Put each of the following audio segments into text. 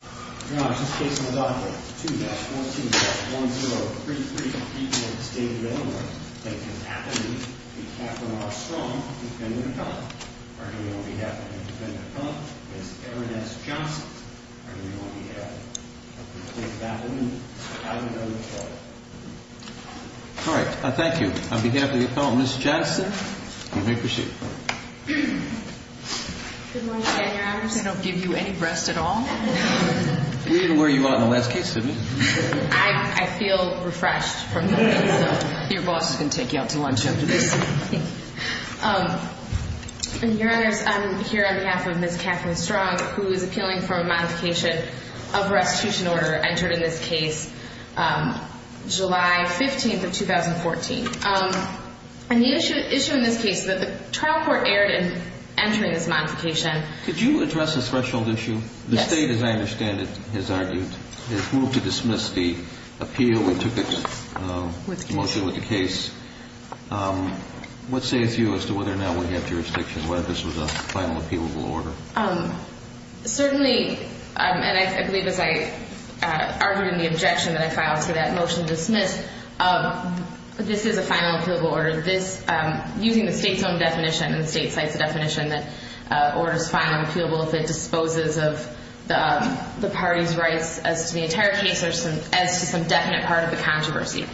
On behalf of the independent appellant, Ms. Erin S. Johnson, are you going to be having a complete baptism as we go to trial? All right. Thank you. On behalf of the appellant, Ms. Johnson, I'm going to proceed. Good morning, Your Honors. I don't give you any rest at all. We didn't wear you out in the last case, did we? I feel refreshed from the morning. Your boss is going to take you out to lunch after this. Thank you. Your Honors, I'm here on behalf of Ms. Kathleen Strong, who is appealing for a modification of her execution order entered in this case July 15th of 2014. And the issue in this case is that the trial court erred in entering this modification. Could you address the threshold issue? Yes. The State, as I understand it, has argued its move to dismiss the appeal. It took its motion with the case. What say is you as to whether or not we have jurisdiction whether this was a final appealable order? Certainly, and I believe as I argued in the objection that I filed for that motion to dismiss, this is a final appealable order. This, using the State's own definition, and the State cites a definition that orders final appealable if it disposes of the party's rights as to the entire case or as to some definite part of the controversy.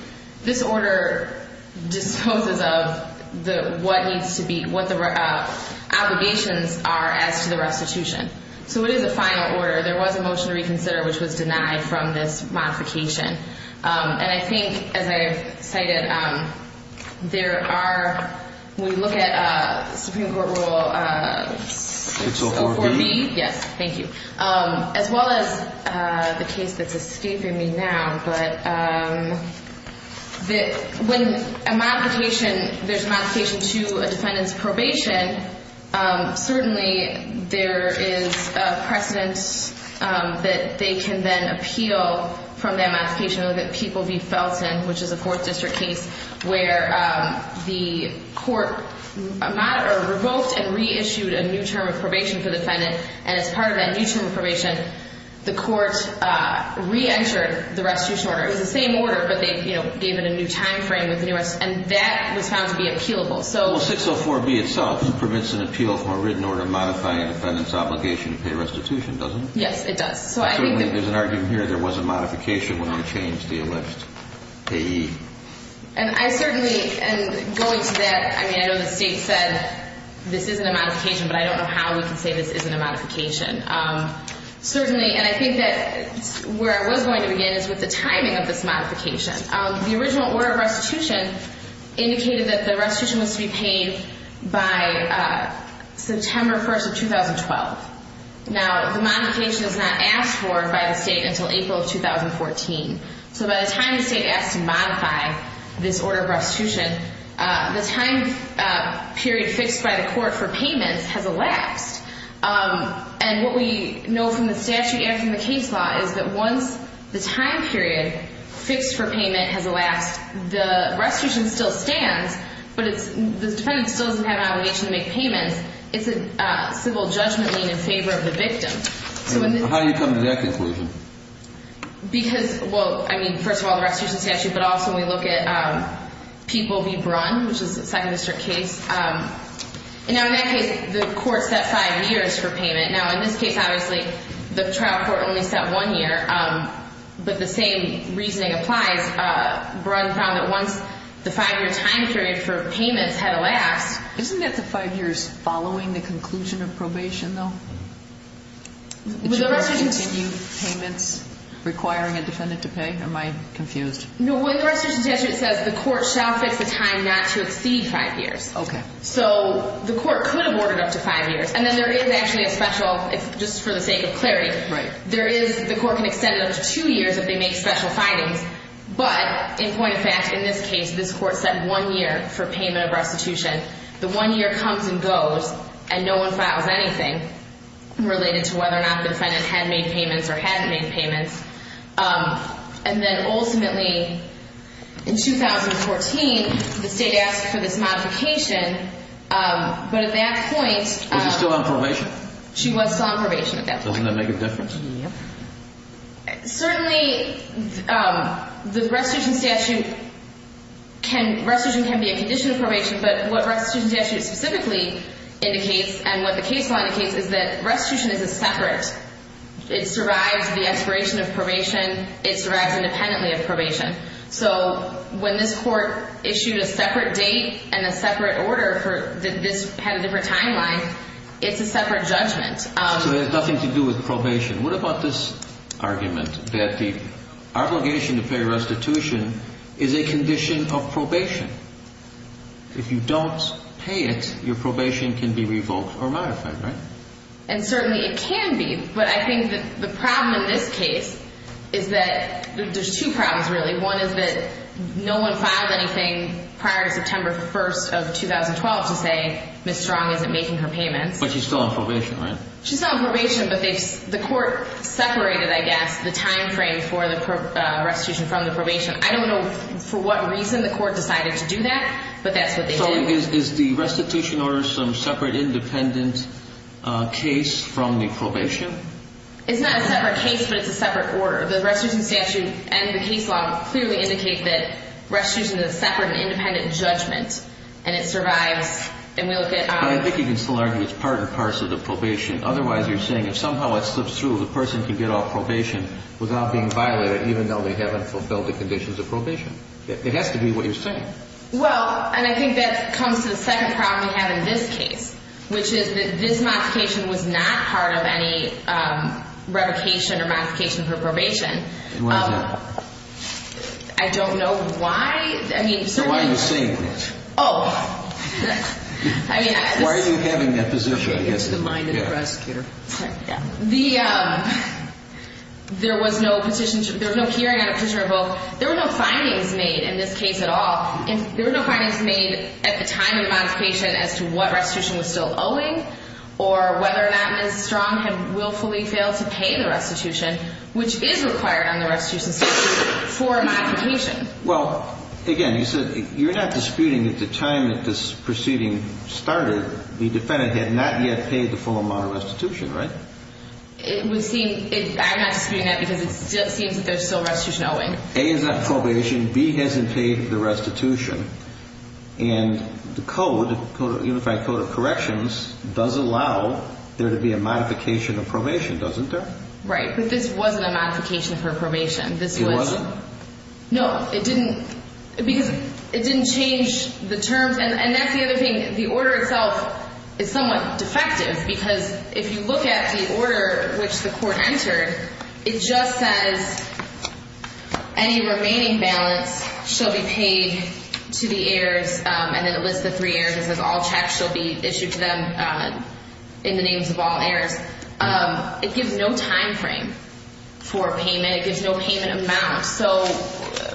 This order disposes of what needs to be, what the obligations are as to the restitution. So it is a final order. There was a motion to reconsider, which was denied from this modification. And I think, as I've cited, there are, when you look at Supreme Court Rule 604B. 604B. Yes, thank you. As well as the case that's escaping me now, but when a modification, there's a modification to a defendant's probation, certainly there is a precedent that they can then appeal from that modification. Look at People v. Felton, which is a 4th District case where the court revoked and reissued a new term of probation for the defendant. And as part of that new term of probation, the court reentered the restitution order. It was the same order, but they, you know, gave it a new timeframe with the new restitution. And that was found to be appealable. Well, 604B itself permits an appeal from a written order modifying a defendant's obligation to pay restitution, doesn't it? Yes, it does. So I think that there's an argument here there was a modification when we changed the alleged payee. And I certainly, and going to that, I mean, I know the state said this isn't a modification, but I don't know how we can say this isn't a modification. Certainly, and I think that where I was going to begin is with the timing of this modification. The original order of restitution indicated that the restitution was to be paid by September 1st of 2012. Now, the modification is not asked for by the state until April of 2014. So by the time the state asked to modify this order of restitution, the time period fixed by the court for payments has elapsed. And what we know from the statute and from the case law is that once the time period fixed for payment has elapsed, the restitution still stands, but the defendant still doesn't have an obligation to make payments. It's a civil judgment lien in favor of the victim. How do you come to that conclusion? Because, well, I mean, first of all, the restitution statute, but also we look at Peeble v. Brunn, which is a second district case. Now, in that case, the court set five years for payment. Now, in this case, obviously, the trial court only set one year, but the same reasoning applies. Brunn found that once the five-year time period for payments had elapsed. Isn't that the five years following the conclusion of probation, though? Would the restitution statute continue payments requiring a defendant to pay? Am I confused? No, what the restitution statute says, the court shall fix the time not to exceed five years. Okay. So the court could have ordered up to five years, and then there is actually a special, just for the sake of clarity. Right. There is, the court can extend it up to two years if they make special findings. But, in point of fact, in this case, this court set one year for payment of restitution. The one year comes and goes, and no one files anything related to whether or not the defendant had made payments or hadn't made payments. And then, ultimately, in 2014, the state asked for this modification, but at that point – Was she still on probation? She was still on probation at that point. Doesn't that make a difference? Yep. Certainly, the restitution statute can – restitution can be a condition of probation. But what restitution statute specifically indicates, and what the case law indicates, is that restitution is a separate. It survives the expiration of probation. It survives independently of probation. So when this court issued a separate date and a separate order for – that this had a different timeline, it's a separate judgment. So it has nothing to do with probation. What about this argument that the obligation to pay restitution is a condition of probation? If you don't pay it, your probation can be revoked or modified, right? And certainly it can be. But I think that the problem in this case is that – there's two problems, really. One is that no one files anything prior to September 1st of 2012 to say Ms. Strong isn't making her payments. But she's still on probation, right? She's still on probation, but they've – the court separated, I guess, the timeframe for the restitution from the probation. I don't know for what reason the court decided to do that, but that's what they did. So is the restitution order some separate, independent case from the probation? It's not a separate case, but it's a separate order. The restitution statute and the case law clearly indicate that restitution is a separate, independent judgment. And it survives – and we look at – But I think you can still argue it's part and parcel of probation. Otherwise, you're saying if somehow it slips through, the person can get off probation without being violated, even though they haven't fulfilled the conditions of probation. It has to be what you're saying. Well, and I think that comes to the second problem we have in this case, which is that this modification was not part of any revocation or modification for probation. Why is that? I don't know why. I mean, certainly – So why are you saying this? Oh. Why are you having that position? Get into the mind of the prosecutor. The – there was no hearing on a petitioner vote. There were no findings made in this case at all. There were no findings made at the time of the modification as to what restitution was still owing or whether or not Ms. Strong had willfully failed to pay the restitution, which is required on the restitution statute for a modification. Well, again, you said you're not disputing at the time that this proceeding started, the defendant had not yet paid the full amount of restitution, right? It would seem – I'm not disputing that because it seems that there's still restitution owing. A is on probation. B hasn't paid the restitution. And the code, the Unified Code of Corrections, does allow there to be a modification of probation, doesn't it? Right. But this wasn't a modification for probation. It wasn't? No, it didn't because it didn't change the terms. And that's the other thing. The order itself is somewhat defective because if you look at the order which the court entered, it just says any remaining balance shall be paid to the heirs, and then it lists the three heirs and says all checks shall be issued to them in the names of all heirs. It gives no timeframe for payment. And it gives no payment amount. So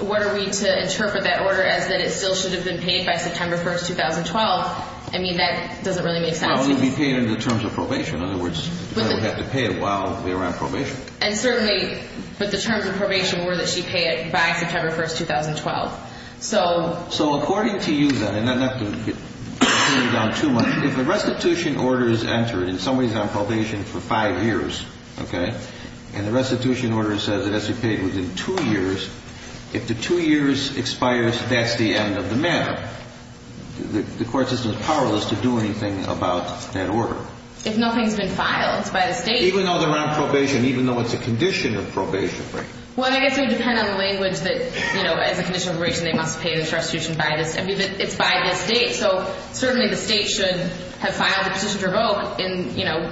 what are we to interpret that order as that it still should have been paid by September 1st, 2012? I mean, that doesn't really make sense. Well, it would be paid in the terms of probation. In other words, the defendant would have to pay it while they were on probation. And certainly – but the terms of probation were that she pay it by September 1st, 2012. So – So according to you, then, and not to put you down too much, if the restitution order is entered, and somebody's on probation for five years, okay, and the restitution order says it has to be paid within two years, if the two years expires, that's the end of the matter. The court system is powerless to do anything about that order. If nothing's been filed by the State. Even though they're on probation, even though it's a condition of probation. Right. Well, I guess it would depend on the language that, you know, as a condition of probation they must pay this restitution by this – I mean, it's by this date. So certainly the State should have filed the position to revoke in, you know,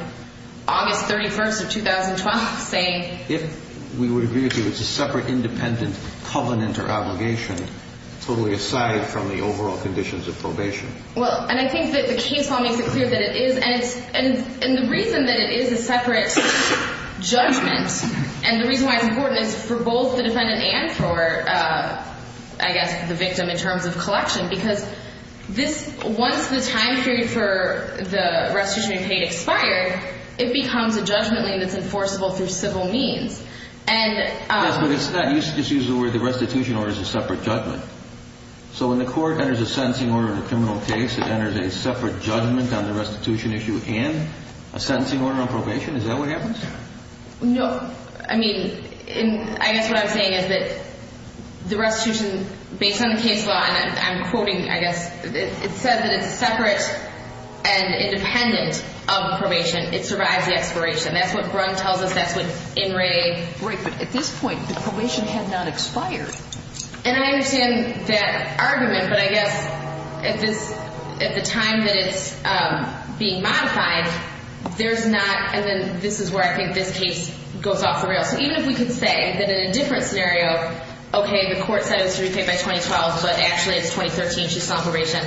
August 31st of 2012, saying – If we would agree with you it's a separate independent covenant or obligation, totally aside from the overall conditions of probation. Well, and I think that the case law makes it clear that it is. And it's – and the reason that it is a separate judgment, and the reason why it's important is for both the defendant and for, I guess, the victim in terms of collection. Because this – once the time period for the restitution being paid expires, it becomes a judgment that's enforceable through civil means. And – Yes, but it's not – you just used the word the restitution order is a separate judgment. So when the court enters a sentencing order in a criminal case, it enters a separate judgment on the restitution issue and a sentencing order on probation. Is that what happens? No. So, I mean, I guess what I'm saying is that the restitution, based on the case law, and I'm quoting, I guess – it said that it's separate and independent of probation. It survives the expiration. That's what Brunn tells us. That's what In re. Right, but at this point the probation had not expired. And I understand that argument, but I guess at this – at the time that it's being modified, there's not – and then this is where I think this case goes off the rails. So even if we could say that in a different scenario, okay, the court said it was to be paid by 2012, but actually it's 2013, she's still on probation.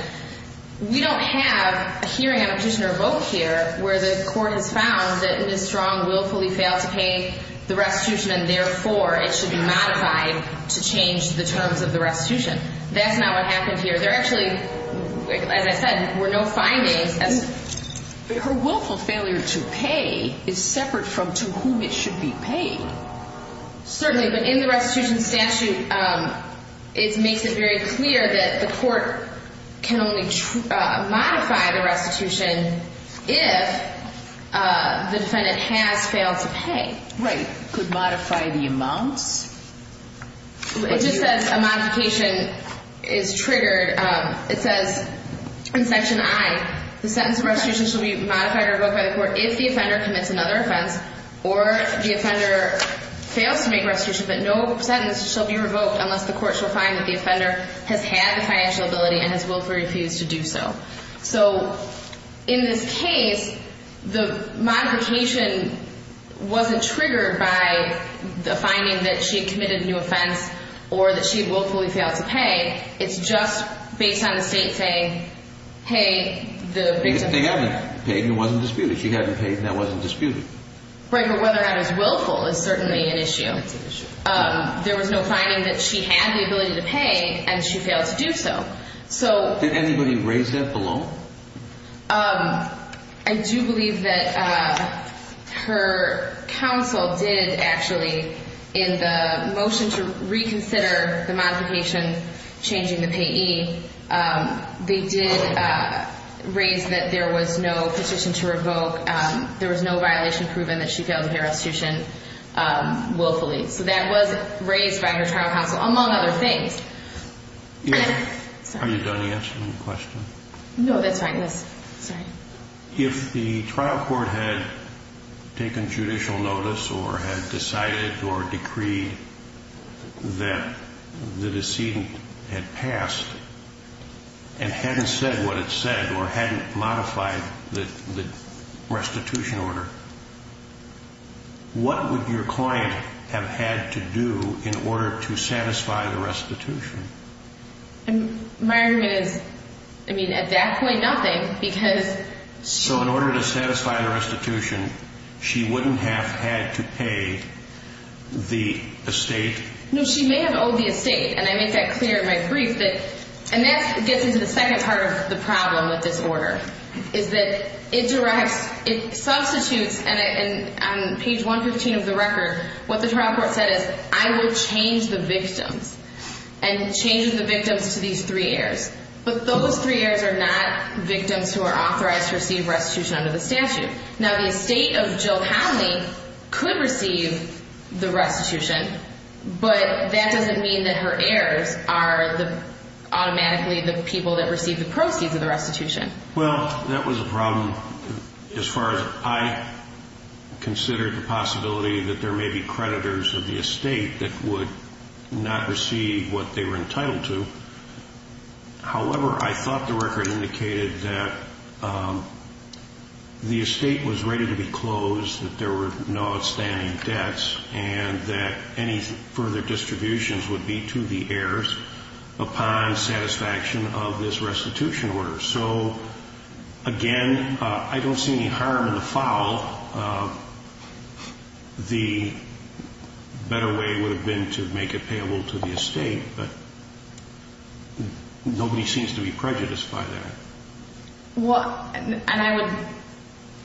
We don't have a hearing on a petition or a vote here where the court has found that Ms. Strong willfully failed to pay the restitution, and therefore it should be modified to change the terms of the restitution. That's not what happened here. There actually, as I said, were no findings. But her willful failure to pay is separate from to whom it should be paid. Certainly, but in the restitution statute it makes it very clear that the court can only modify the restitution if the defendant has failed to pay. Right. Could modify the amounts? It just says a modification is triggered. It says in Section I, the sentence of restitution shall be modified or revoked by the court if the offender commits another offense or the offender fails to make restitution, but no sentence shall be revoked unless the court shall find that the offender has had the financial ability and has willfully refused to do so. So in this case, the modification wasn't triggered by the finding that she committed a new offense or that she willfully failed to pay. It's just based on the state saying, hey, the victim. They haven't paid and it wasn't disputed. She hadn't paid and that wasn't disputed. Right, but whether or not it was willful is certainly an issue. It's an issue. There was no finding that she had the ability to pay and she failed to do so. Did anybody raise that below? I do believe that her counsel did actually in the motion to reconsider the modification changing the payee, they did raise that there was no petition to revoke. There was no violation proven that she failed to pay restitution willfully. So that was raised by her trial counsel, among other things. Yeah. I'm sorry. Are you done answering the question? No, that's fine. Yes. Sorry. If the trial court had taken judicial notice or had decided or decreed that the decedent had passed and hadn't said what it said or hadn't modified the restitution order, what would your client have had to do in order to satisfy the restitution? My argument is, I mean, at that point, nothing because she... So in order to satisfy the restitution, she wouldn't have had to pay the estate? No, she may have owed the estate, and I make that clear in my brief. And that gets into the second part of the problem with this order is that it substitutes, and on page 115 of the record, what the trial court said is, I will change the victims and change the victims to these three heirs. But those three heirs are not victims who are authorized to receive restitution under the statute. Now, the estate of Jill Howley could receive the restitution, but that doesn't mean that her heirs are automatically the people that receive the proceeds of the restitution. Well, that was a problem as far as I considered the possibility that there may be creditors of the estate that would not receive what they were entitled to. However, I thought the record indicated that the estate was ready to be closed, that there were no outstanding debts, and that any further distributions would be to the heirs upon satisfaction of this restitution order. So, again, I don't see any harm in the foul. The better way would have been to make it payable to the estate, but nobody seems to be prejudiced by that. Well, and I would,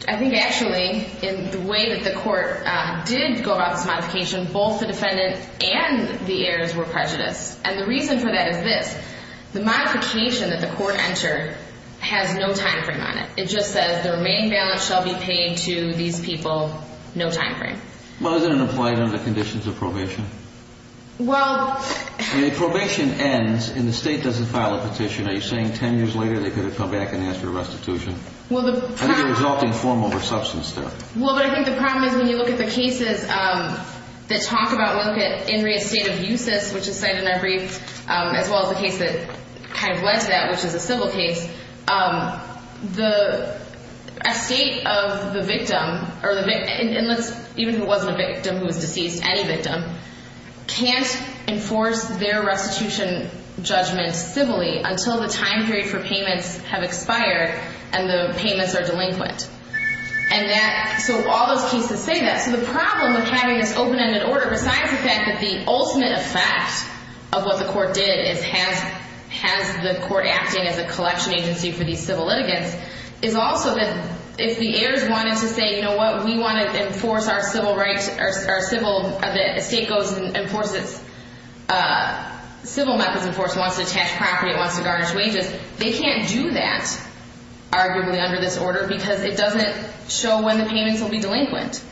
I think actually in the way that the court did go about this modification, both the defendant and the heirs were prejudiced, and the reason for that is this. The modification that the court entered has no time frame on it. It just says the remaining balance shall be paid to these people, no time frame. Well, isn't it applied under the conditions of probation? Well... The probation ends and the state doesn't file a petition. Are you saying 10 years later they could have come back and asked for the restitution? Well, the... I think they're exalting form over substance there. Well, but I think the problem is when you look at the cases that talk about, when you look at In Re Estate Abusus, which is cited in our brief, as well as the case that kind of led to that, which is a civil case, the estate of the victim, even if it wasn't a victim who was deceased, any victim, can't enforce their restitution judgment civilly until the time period for payments have expired and the payments are delinquent. And that, so all those cases say that. So the problem with having this open-ended order, besides the fact that the ultimate effect of what the court did is has the court acting as a collection agency for these civil litigants, is also that if the heirs wanted to say, you know what, we want to enforce our civil rights, our civil, the estate goes and enforces, civil methods enforce, wants to detach property, wants to garnish wages, they can't do that arguably under this order because it doesn't show when the payments will be delinquent.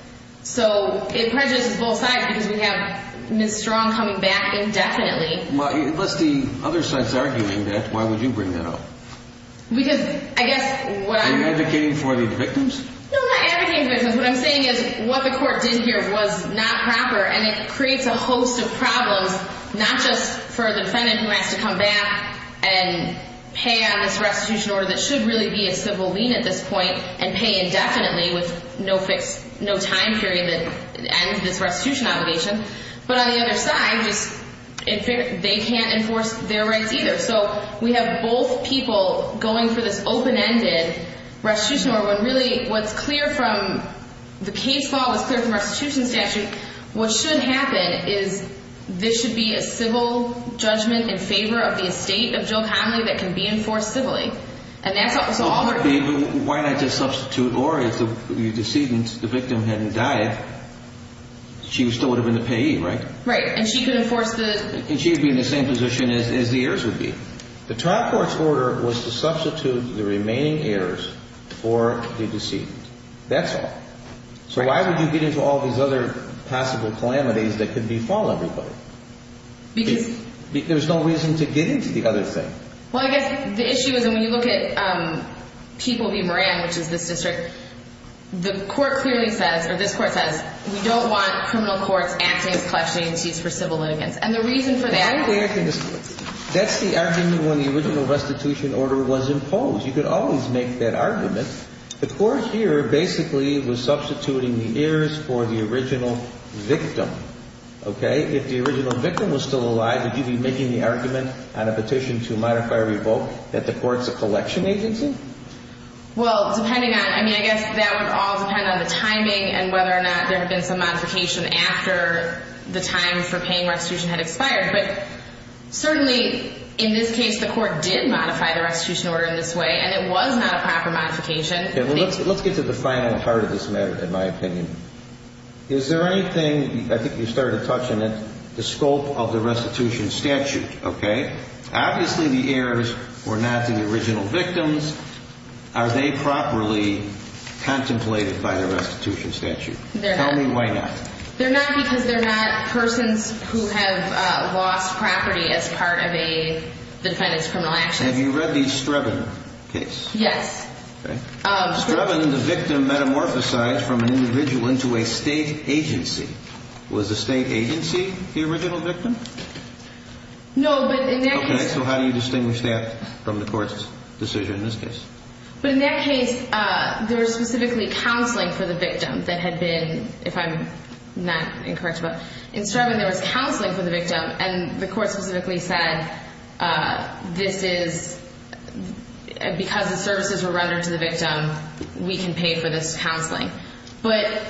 So it prejudices both sides because we have Ms. Strong coming back indefinitely. Well, unless the other side is arguing that, why would you bring that up? Because I guess what I'm... Are you advocating for the victims? No, I'm not advocating for the victims. What I'm saying is what the court did here was not proper and it creates a host of problems, not just for the defendant who has to come back and pay on this restitution order that should really be a civil lien at this point and pay indefinitely with no fixed, no time period that ends this restitution obligation. But on the other side, they can't enforce their rights either. So we have both people going for this open-ended restitution order when really what's clear from, the case law is clear from restitution statute. What should happen is this should be a civil judgment in favor of the estate of Jill Connolly that can be enforced civilly. And that's all... Why not just substitute or if the decedent, the victim hadn't died, she still would have been the payee, right? Right, and she could enforce the... And she'd be in the same position as the heirs would be. The trial court's order was to substitute the remaining heirs for the decedent. That's all. So why would you get into all these other possible calamities that could befall everybody? Because... There's no reason to get into the other thing. Well, I guess the issue is when you look at People v. Moran, which is this district, the court clearly says, or this court says, we don't want criminal courts acting as collections agencies for civil litigants. And the reason for that is... That's the argument when the original restitution order was imposed. You could always make that argument. The court here basically was substituting the heirs for the original victim, okay? If the original victim was still alive, would you be making the argument on a petition to modify or revoke that the court's a collection agency? Well, depending on... I mean, I guess that would all depend on the timing and whether or not there had been some modification after the time for paying restitution had expired. But certainly, in this case, the court did modify the restitution order in this way, and it was not a proper modification. Okay, well, let's get to the final part of this matter, in my opinion. Is there anything... I think you started touching it, the scope of the restitution statute, okay? Obviously, the heirs were not the original victims. Are they properly contemplated by the restitution statute? They're not. Tell me why not. They're not because they're not persons who have lost property as part of a defendant's criminal actions. And have you read the Strebin case? Yes. Okay. Strebin, the victim metamorphosized from an individual into a state agency. Was the state agency the original victim? No, but in that case... Okay, so how do you distinguish that from the court's decision in this case? But in that case, there was specifically counseling for the victim that had been, if I'm not incorrect, but in Strebin, there was counseling for the victim, and the court specifically said, this is, because the services were rendered to the victim, we can pay for this counseling. But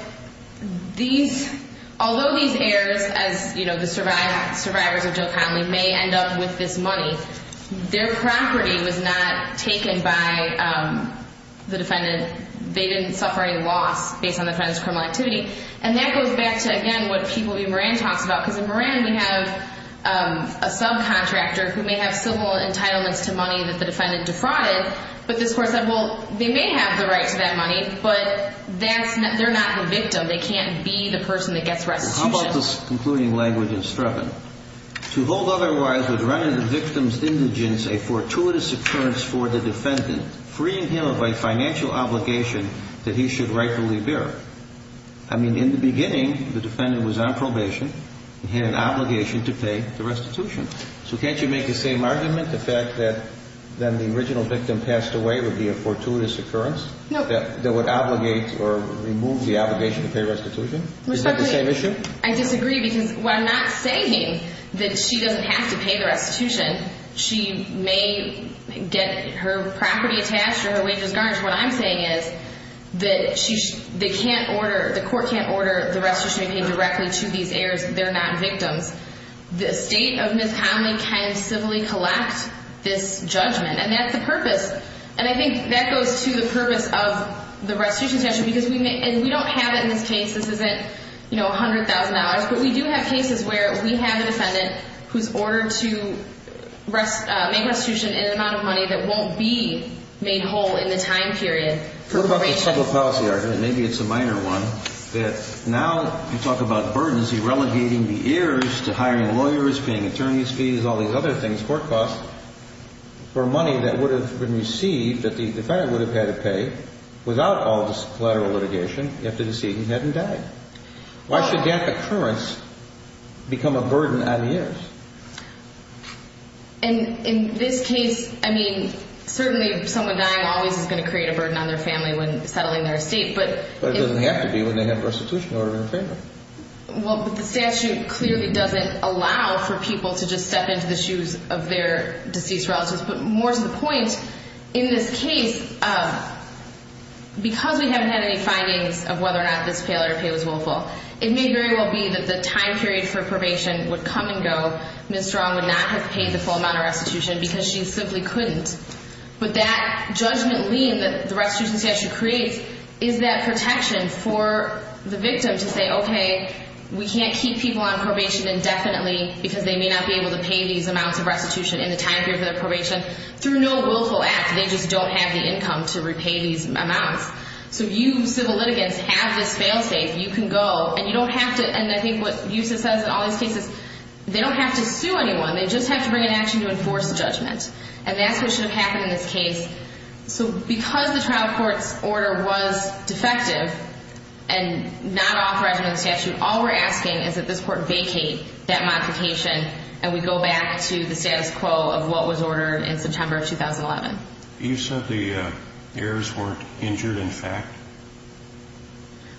these, although these heirs, as, you know, the survivors of Jill Connolly may end up with this money, their property was not taken by the defendant. They didn't suffer any loss based on the defendant's criminal activity. And that goes back to, again, what People v. Moran talks about, because in Moran we have a subcontractor who may have civil entitlements to money that the defendant defrauded, but this court said, well, they may have the right to that money, but they're not the victim. They can't be the person that gets restitution. How about this concluding language in Strebin? To hold otherwise would render the victim's indigence a fortuitous occurrence for the defendant, freeing him of a financial obligation that he should rightfully bear. I mean, in the beginning, the defendant was on probation and had an obligation to pay the restitution. So can't you make the same argument, the fact that then the original victim passed away would be a fortuitous occurrence? No. That would obligate or remove the obligation to pay restitution? I disagree. Is that the same issue? I disagree because what I'm not saying is that she doesn't have to pay the restitution. She may get her property attached or her wages garnished. What I'm saying is that they can't order, the court can't order the restitution to be paid directly to these heirs. They're not victims. The state of Miss Connelly can civilly collect this judgment, and that's the purpose, and I think that goes to the purpose of the restitution statute because we don't have it in this case. This isn't $100,000, but we do have cases where we have a defendant who's ordered to make restitution in an amount of money that won't be made whole in the time period for probation. What about the civil policy argument, and maybe it's a minor one, that now you talk about burdens, you're relegating the heirs to hiring lawyers, paying attorney's fees, all these other things for costs for money that would have been received, that the defendant would have had to pay without all this collateral litigation if the decedent hadn't died. Why should that occurrence become a burden on the heirs? And in this case, I mean, certainly someone dying always is going to create a burden on their family when settling their estate. But it doesn't have to be when they have restitution in order to repay them. Well, but the statute clearly doesn't allow for people to just step into the shoes of their deceased relatives. But more to the point, in this case, because we haven't had any findings of whether or not this pay order pay was willful, it may very well be that the time period for probation would come and go. Ms. Strong would not have paid the full amount of restitution because she simply couldn't. But that judgment lien that the restitution statute creates is that protection for the victim to say, okay, we can't keep people on probation indefinitely because they may not be able to pay these amounts of restitution in the time period for their probation. Through no willful act, they just don't have the income to repay these amounts. So you civil litigants have this fail safe. You can go. And you don't have to. And I think what Usa says in all these cases, they don't have to sue anyone. They just have to bring an action to enforce the judgment. And that's what should have happened in this case. So because the trial court's order was defective and not authorizing the statute, all we're asking is that this court vacate that modification, and we go back to the status quo of what was ordered in September of 2011. You said the heirs weren't injured in fact?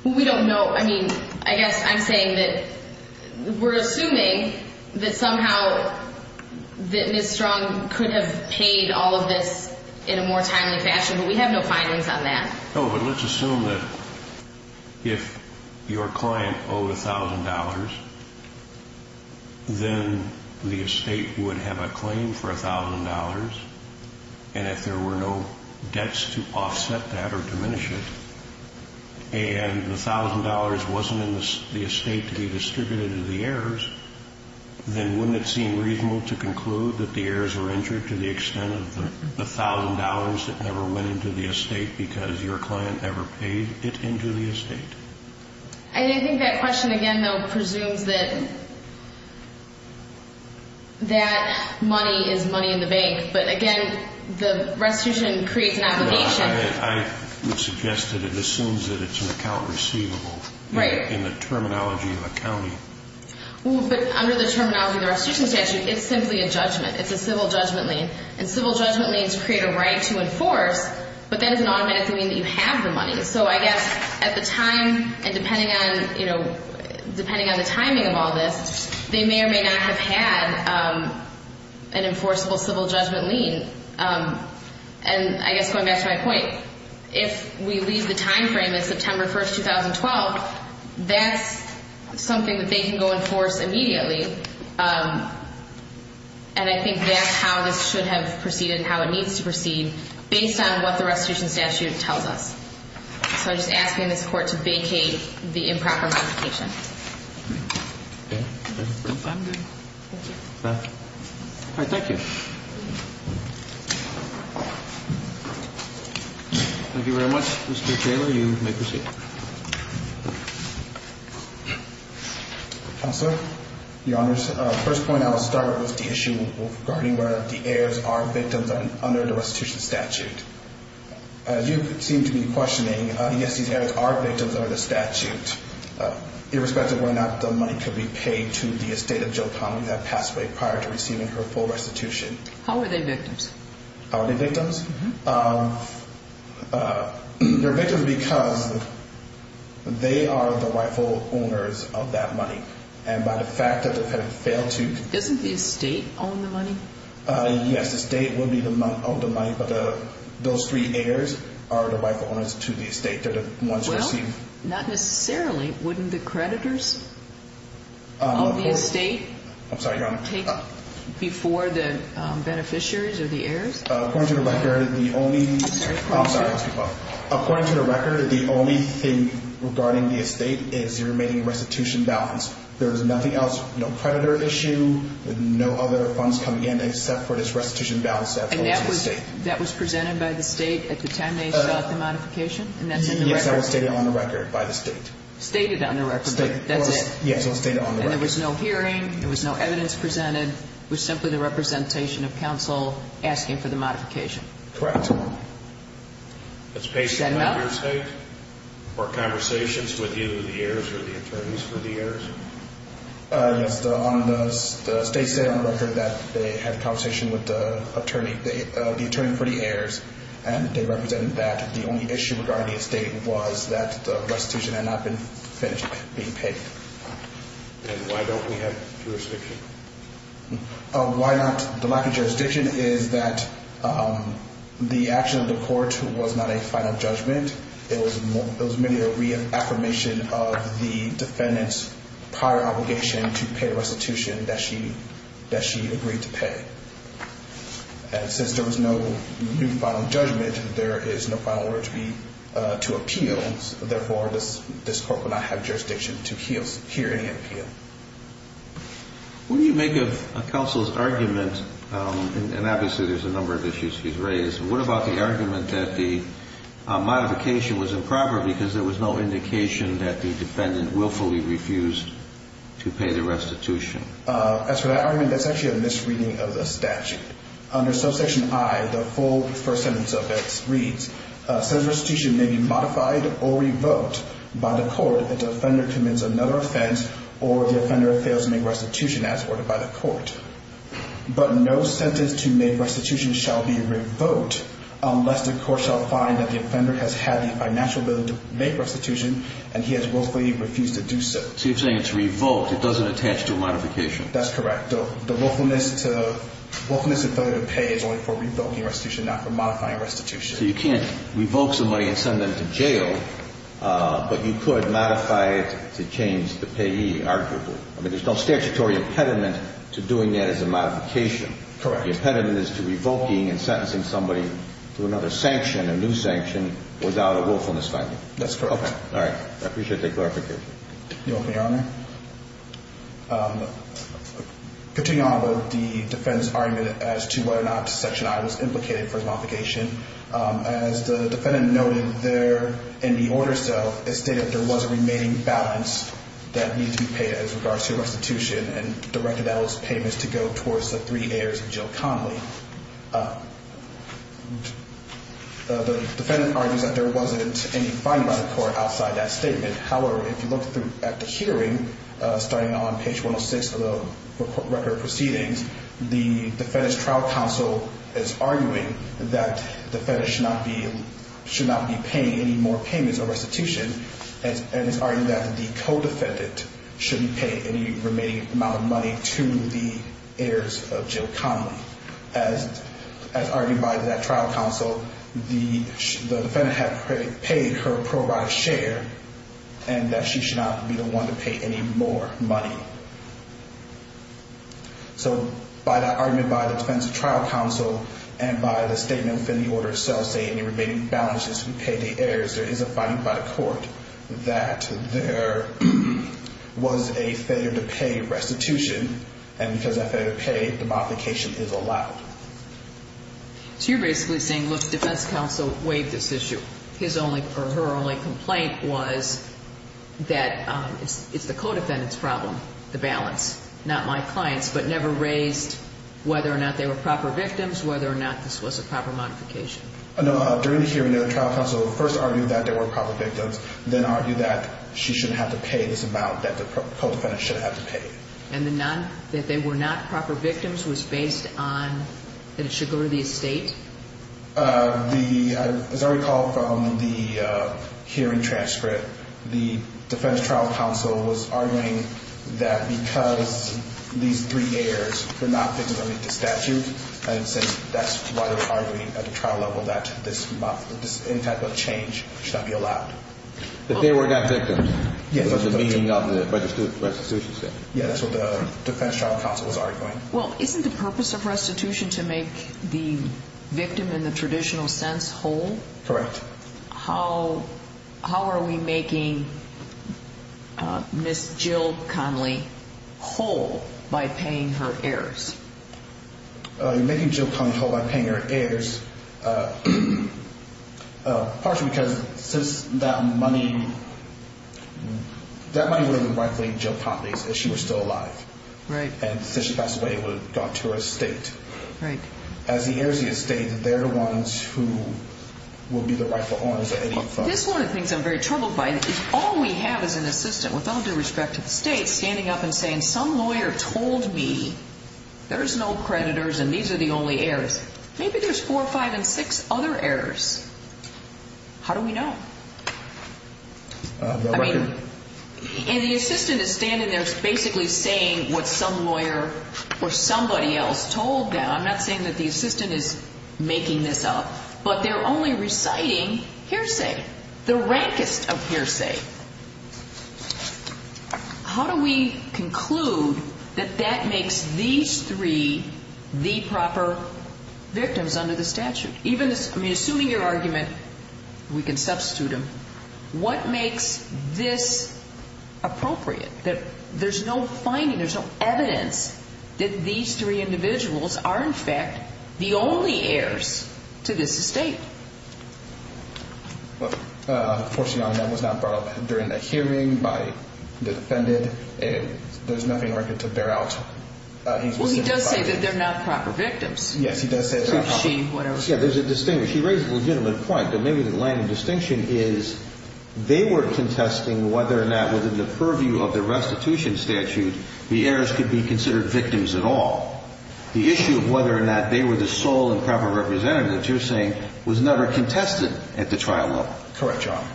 We don't know. I mean, I guess I'm saying that we're assuming that somehow that Ms. Strong could have paid all of this in a more timely fashion, but we have no findings on that. Oh, but let's assume that if your client owed $1,000, then the estate would have a claim for $1,000. And if there were no debts to offset that or diminish it, and the $1,000 wasn't in the estate to be distributed to the heirs, then wouldn't it seem reasonable to conclude that the heirs were injured to the extent of the $1,000 that never went into the estate because your client never paid it into the estate? I think that question again, though, presumes that money is money in the bank, but again, the restitution creates an obligation. I would suggest that it assumes that it's an account receivable in the terminology of accounting. But under the terminology of the restitution statute, it's simply a judgment. It's a civil judgment lien, and civil judgment liens create a right to enforce, but that doesn't automatically mean that you have the money. So I guess at the time, and depending on the timing of all this, they may or may not have had an enforceable civil judgment lien. And I guess going back to my point, if we leave the timeframe at September 1, 2012, that's something that they can go enforce immediately, and I think that's how this should have proceeded and how it needs to proceed based on what the restitution statute tells us. So I just ask you in this court to vacate the improper modification. Okay. I'm good. Thank you. All right. Thank you. Thank you very much. Mr. Taylor, you may proceed. Counselor, Your Honors. First point I'll start with the issue regarding whether the heirs are victims under the restitution statute. You seem to be questioning, yes, these heirs are victims under the statute, irrespective of whether or not the money could be paid to the estate of Jill Connelly that passed away prior to receiving her full restitution. How are they victims? How are they victims? They're victims because they are the rightful owners of that money, and by the fact that they have failed to. Doesn't the estate own the money? Yes, the estate will be the owner of the money, but those three heirs are the rightful owners to the estate. They're the ones who receive. Well, not necessarily. Wouldn't the creditors of the estate take before the beneficiaries or the heirs? According to the record, the only thing regarding the estate is the remaining restitution balance. There is nothing else, no creditor issue, no other funds coming in except for this restitution balance. And that was presented by the state at the time they sought the modification? Yes, that was stated on the record by the state. Stated on the record, but that's it. Yes, it was stated on the record. And there was no hearing, there was no evidence presented. It was simply the representation of counsel asking for the modification. Correct. That's based on your state or conversations with either the heirs or the attorneys for the heirs? Yes, the state stated on the record that they had a conversation with the attorney for the heirs, and they represented that the only issue regarding the estate was that the restitution had not been finished being paid. And why don't we have jurisdiction? Why not? The lack of jurisdiction is that the action of the court was not a final judgment. It was merely a reaffirmation of the defendant's prior obligation to pay the restitution that she agreed to pay. And since there was no new final judgment, there is no final order to appeal, and therefore this court would not have jurisdiction to hear any appeal. What do you make of counsel's argument, and obviously there's a number of issues he's raised, what about the argument that the modification was improper because there was no indication that the defendant willfully refused to pay the restitution? As for that argument, that's actually a misreading of the statute. Under subsection I, the full first sentence of it reads, says restitution may be modified or revoked by the court if the offender commits another offense or the offender fails to make restitution as ordered by the court. But no sentence to make restitution shall be revoked unless the court shall find that the offender has had the financial ability to make restitution and he has willfully refused to do so. So you're saying it's revoked, it doesn't attach to a modification. That's correct. The willfulness to fail to pay is only for revoking restitution, not for modifying restitution. So you can't revoke somebody and send them to jail, but you could modify it to change the payee, arguably. I mean, there's no statutory impediment to doing that as a modification. Correct. The impediment is to revoking and sentencing somebody to another sanction, a new sanction, without a willfulness finding. That's correct. All right. I appreciate that clarification. Your Honor, continuing on about the defendant's argument as to whether or not subsection I was implicated for his modification, as the defendant noted there in the order itself, it stated there was a remaining balance that needed to be paid as regards to restitution and directed that payment to go towards the three heirs of Jill Connolly. The defendant argues that there wasn't any finding by the court outside that statement. However, if you look at the hearing, starting on page 106 of the record of proceedings, the defendant's trial counsel is arguing that the defendant should not be paying any more payments or restitution and is arguing that the co-defendant shouldn't pay any remaining amount of money to the heirs of Jill Connolly. As argued by that trial counsel, the defendant had paid her pro-life share and that she should not be the one to pay any more money. So by that argument, by the defendant's trial counsel, and by the statement within the order itself, say any remaining balance that should be paid to the heirs, there is a finding by the court that there was a failure to pay restitution, and because that failure to pay, the modification is allowed. So you're basically saying, look, the defense counsel waived this issue. Her only complaint was that it's the co-defendant's problem, the balance, not my client's, but never raised whether or not they were proper victims, whether or not this was a proper modification. During the hearing, the trial counsel first argued that they were proper victims, then argued that she shouldn't have to pay this amount that the co-defendant shouldn't have to pay. And that they were not proper victims was based on that it should go to the estate? As I recall from the hearing transcript, the defense trial counsel was arguing that because these three heirs were not victims of the statute, that's why they were arguing at the trial level that any type of change should not be allowed. That they were not victims was the meaning of the restitution statement. Yes, that's what the defense trial counsel was arguing. Well, isn't the purpose of restitution to make the victim in the traditional sense whole? Correct. How are we making Ms. Jill Conley whole by paying her heirs? You're making Jill Conley whole by paying her heirs, partially because that money would have been rightfully Jill Conley's if she were still alive. Right. And that's the way it would have got to her estate. Right. As the heirs of the estate, they're the ones who will be the rightful owners of any money. This is one of the things I'm very troubled by is all we have is an assistant, with all due respect to the state, standing up and saying, some lawyer told me there's no creditors and these are the only heirs. Maybe there's four, five, and six other heirs. How do we know? And the assistant is standing there basically saying what some lawyer or somebody else told them. I'm not saying that the assistant is making this up. But they're only reciting hearsay, the rankest of hearsay. How do we conclude that that makes these three the proper victims under the statute? Assuming your argument, we can substitute them. What makes this appropriate, that there's no finding, there's no evidence that these three individuals are, in fact, the only heirs to this estate? Unfortunately, that was not brought up during the hearing by the defendant. There's nothing for her to bear out. Well, he does say that they're not proper victims. Yes, he does say that she, whatever. Yeah, there's a distinction. She raised a legitimate point, but maybe the line of distinction is, they were contesting whether or not within the purview of the restitution statute, the heirs could be considered victims at all. The issue of whether or not they were the sole and proper representatives, you're saying, was never contested at the trial level. Correct, Your Honor.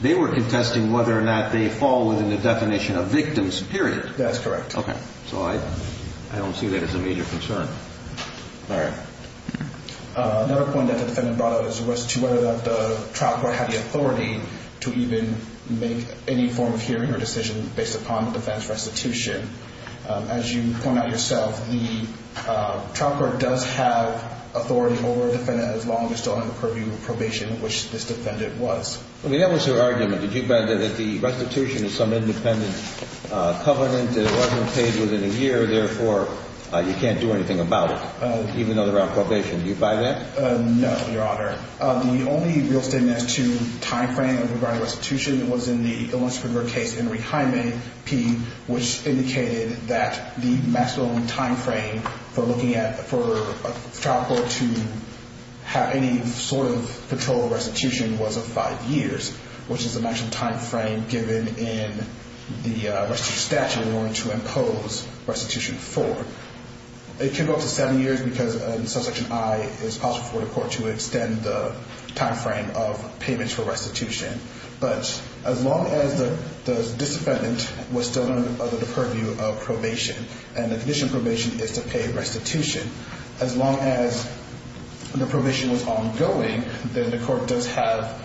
They were contesting whether or not they fall within the definition of victims, period. That's correct. Okay. So I don't see that as a major concern. All right. Another point that the defendant brought up was to whether or not the trial court had the authority to even make any form of hearing or decision based upon the defense restitution. As you point out yourself, the trial court does have authority over a defendant as long as it's still under the purview of probation, which this defendant was. I mean, that was her argument. Your Honor, did you find that the restitution is some independent covenant that it wasn't paid within a year, therefore you can't do anything about it, even though they're on probation? Do you buy that? No, Your Honor. The only real statement as to time frame regarding restitution was in the Illinois Supreme Court case, Henry Hyman P., which indicated that the maximum time frame for looking at, for a trial court to have any sort of patrol restitution was of five years, which is the maximum time frame given in the restitution statute in order to impose restitution for. It can go up to seven years because in subsection I, it's possible for the court to extend the time frame of payments for restitution. But as long as the defendant was still under the purview of probation and the condition of probation is to pay restitution, as long as the probation was ongoing, then the court does have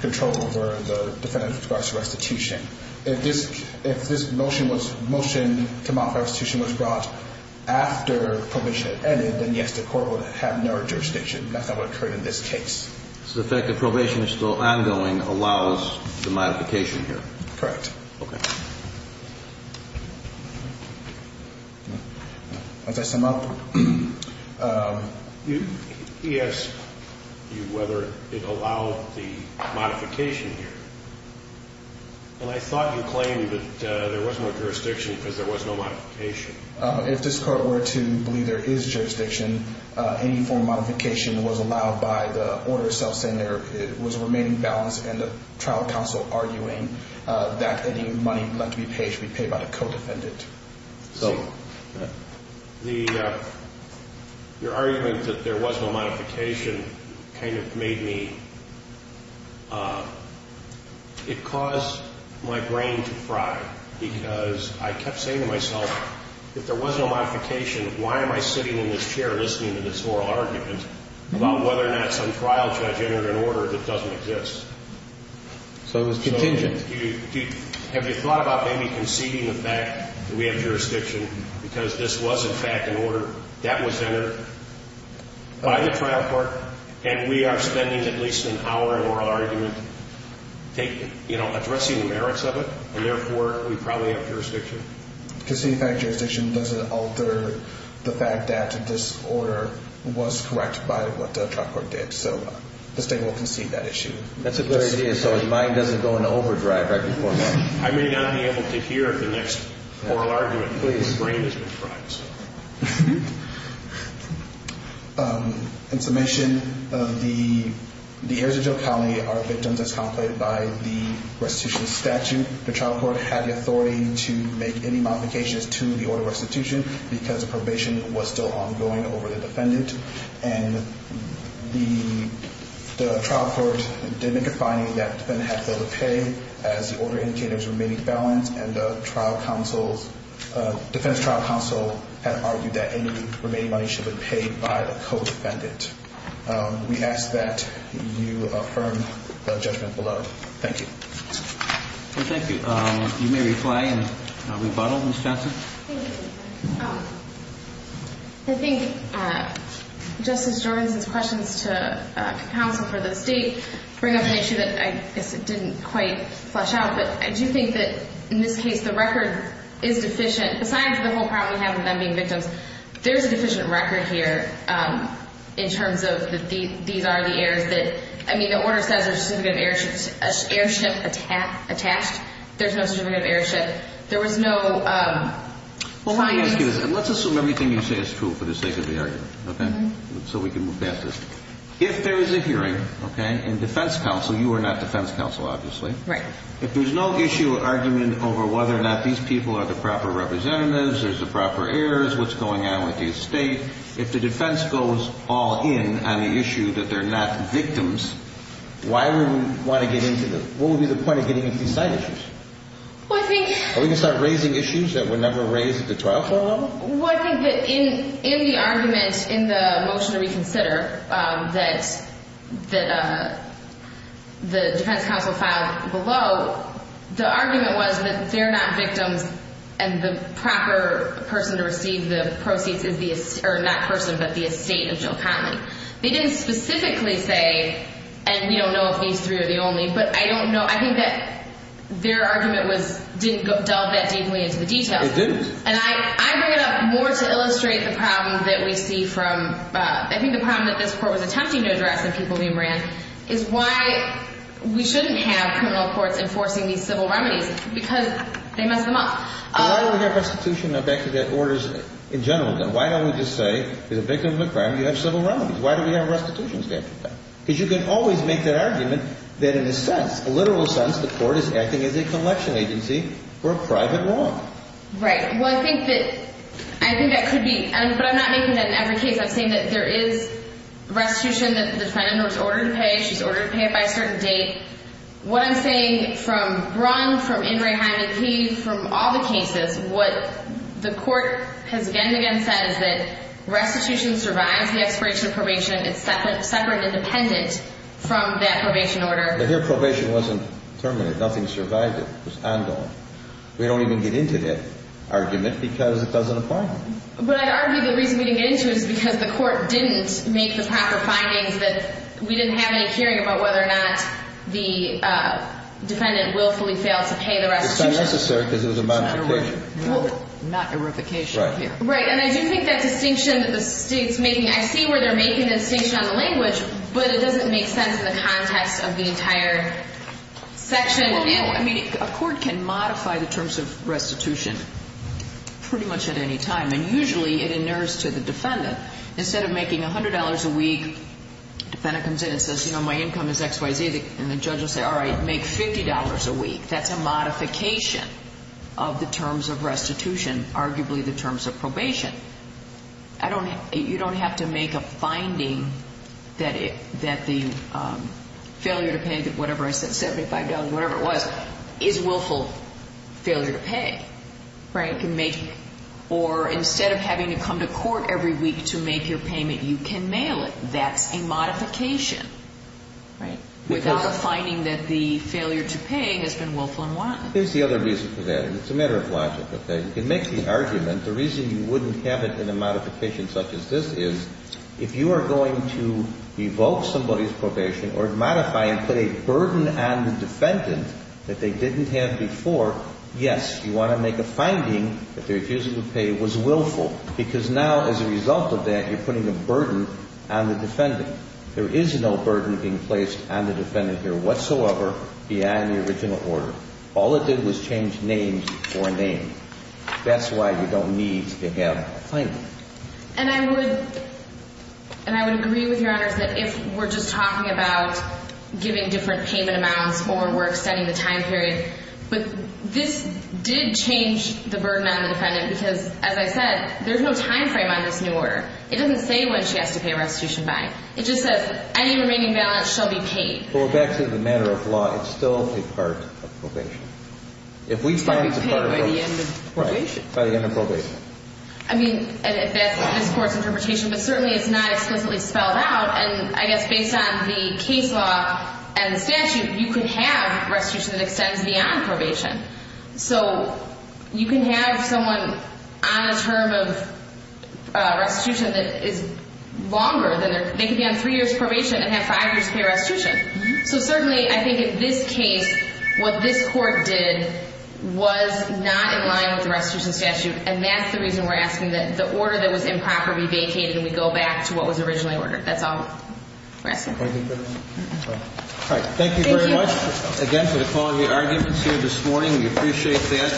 control over the defendant with regards to restitution. If this motion to modify restitution was brought after probation had ended, then, yes, the court would have no jurisdiction. That's not what occurred in this case. So the fact that probation is still ongoing allows the modification here. Correct. Okay. As I sum up. He asked you whether it allowed the modification here. And I thought you claimed that there was no jurisdiction because there was no modification. If this court were to believe there is jurisdiction, any form of modification was allowed by the order itself saying there was a remaining balance and the trial counsel arguing that any money left to be paid should be paid by the co-defendant. So your argument that there was no modification kind of made me, it caused my brain to fry because I kept saying to myself, if there was no modification, why am I sitting in this chair listening to this oral argument about whether or not some trial judge entered an order that doesn't exist? So it was contingent. Have you thought about maybe conceding the fact that we have jurisdiction because this was, in fact, an order. That was entered by the trial court, and we are spending at least an hour in oral argument addressing the merits of it, and therefore we probably have jurisdiction. Conceding fact jurisdiction doesn't alter the fact that this order was correct by what the trial court did. So the state will concede that issue. That's a good idea so his mind doesn't go into overdrive right before that. I may not be able to hear the next oral argument. Please. My brain is going to fry. In summation, the heirs of Joe Conley are victims as contemplated by the restitution statute. The trial court had the authority to make any modifications to the order restitution because the probation was still ongoing over the defendant, and the trial court did make a finding that the defendant had failed to pay as the order indicators remained balanced, and the defense trial counsel had argued that any remaining money should have been paid by the co-defendant. We ask that you affirm the judgment below. Thank you. Well, thank you. You may reply and rebuttal, Ms. Johnson. Thank you. I think Justice Jorgenson's questions to counsel for the state bring up an issue that I guess it didn't quite flesh out, but I do think that in this case the record is deficient. Besides the whole problem we have with them being victims, there is a deficient record here in terms of that these are the heirs that, I mean, the order says there's a certificate of heirship attached. There's no certificate of heirship. There was no client's. Let's assume everything you say is true for the sake of the argument, okay, so we can move past this. If there is a hearing, okay, in defense counsel, you are not defense counsel, obviously. Right. If there's no issue or argument over whether or not these people are the proper representatives, there's the proper heirs, what's going on with the estate, if the defense goes all in on the issue that they're not victims, why would we want to get into the – what would be the point of getting into these side issues? Well, I think – Are we going to start raising issues that were never raised at the trial trial level? Well, I think that in the argument in the motion to reconsider that the defense counsel filed below, the argument was that they're not victims and the proper person to receive the proceeds is the – or not person, but the estate of Jill Conley. They didn't specifically say, and we don't know if these three are the only, but I don't know – I think that their argument was – didn't delve that deeply into the details. It didn't. And I bring it up more to illustrate the problem that we see from – I think the problem that this court was attempting to address in People v. Moran is why we shouldn't have criminal courts enforcing these civil remedies because they mess them up. But why don't we have restitution of executive orders in general, though? Why don't we just say, as a victim of a crime, you have civil remedies? Why don't we have a restitution statute? Because you can always make that argument that in a sense, a literal sense, the court is acting as a collection agency for a private wrong. Right. Well, I think that – I think that could be – but I'm not making that in every case. I'm saying that there is restitution that the defendant was ordered to pay. She's ordered to pay it by a certain date. What I'm saying from Brunn, from Ingray, Hyman, Key, from all the cases, what the court has again and again said is that restitution survives the expiration of probation. It's separate and independent from that probation order. But here, probation wasn't terminated. Nothing survived it. It was ongoing. We don't even get into that argument because it doesn't apply. But I'd argue the reason we didn't get into it is because the court didn't make the proper findings that we didn't have any hearing about whether or not the defendant willfully failed to pay the restitution. It's not necessary because it was a modification. Not a verification here. Right. And I do think that distinction that the State's making – I see where they're making the distinction on the language, but it doesn't make sense in the context of the entire section. A court can modify the terms of restitution pretty much at any time, and usually it inures to the defendant. Instead of making $100 a week, the defendant comes in and says, you know, my income is X, Y, Z, and the judge will say, all right, make $50 a week. That's a modification of the terms of restitution, arguably the terms of probation. You don't have to make a finding that the failure to pay whatever I said, $75, whatever it was, is willful failure to pay. Right. Or instead of having to come to court every week to make your payment, you can mail it. That's a modification. Right. Without a finding that the failure to pay has been willful and wanton. Here's the other reason for that, and it's a matter of logic. You can make the argument. The reason you wouldn't have it in a modification such as this is if you are going to evoke somebody's probation or modify and put a burden on the defendant that they didn't have before, yes, you want to make a finding that their refusal to pay was willful because now as a result of that, you're putting a burden on the defendant. There is no burden being placed on the defendant here whatsoever beyond the original order. All it did was change name for name. That's why you don't need to have a finding. And I would agree with Your Honors that if we're just talking about giving different payment amounts or we're extending the time period, but this did change the burden on the defendant because, as I said, there's no time frame on this new order. It doesn't say when she has to pay a restitution back. It just says any remaining balance shall be paid. Well, it's actually a matter of law. It's still a part of probation. If we find it's a part of probation. It can be paid by the end of probation. Right, by the end of probation. I mean, and that's this Court's interpretation, but certainly it's not explicitly spelled out. And I guess based on the case law and the statute, you could have restitution that extends beyond probation. So you can have someone on a term of restitution that is longer than their – So certainly, I think in this case, what this Court did was not in line with the restitution statute. And that's the reason we're asking that the order that was improper be vacated and we go back to what was originally ordered. That's all we're asking. All right. Thank you very much again for the quality of your arguments here this morning. We appreciate that.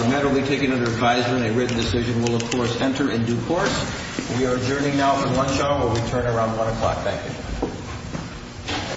The matter will be taken under advisement. A written decision will, of course, enter in due course. We are adjourning now for lunch hour. We'll return around 1 o'clock. Thank you.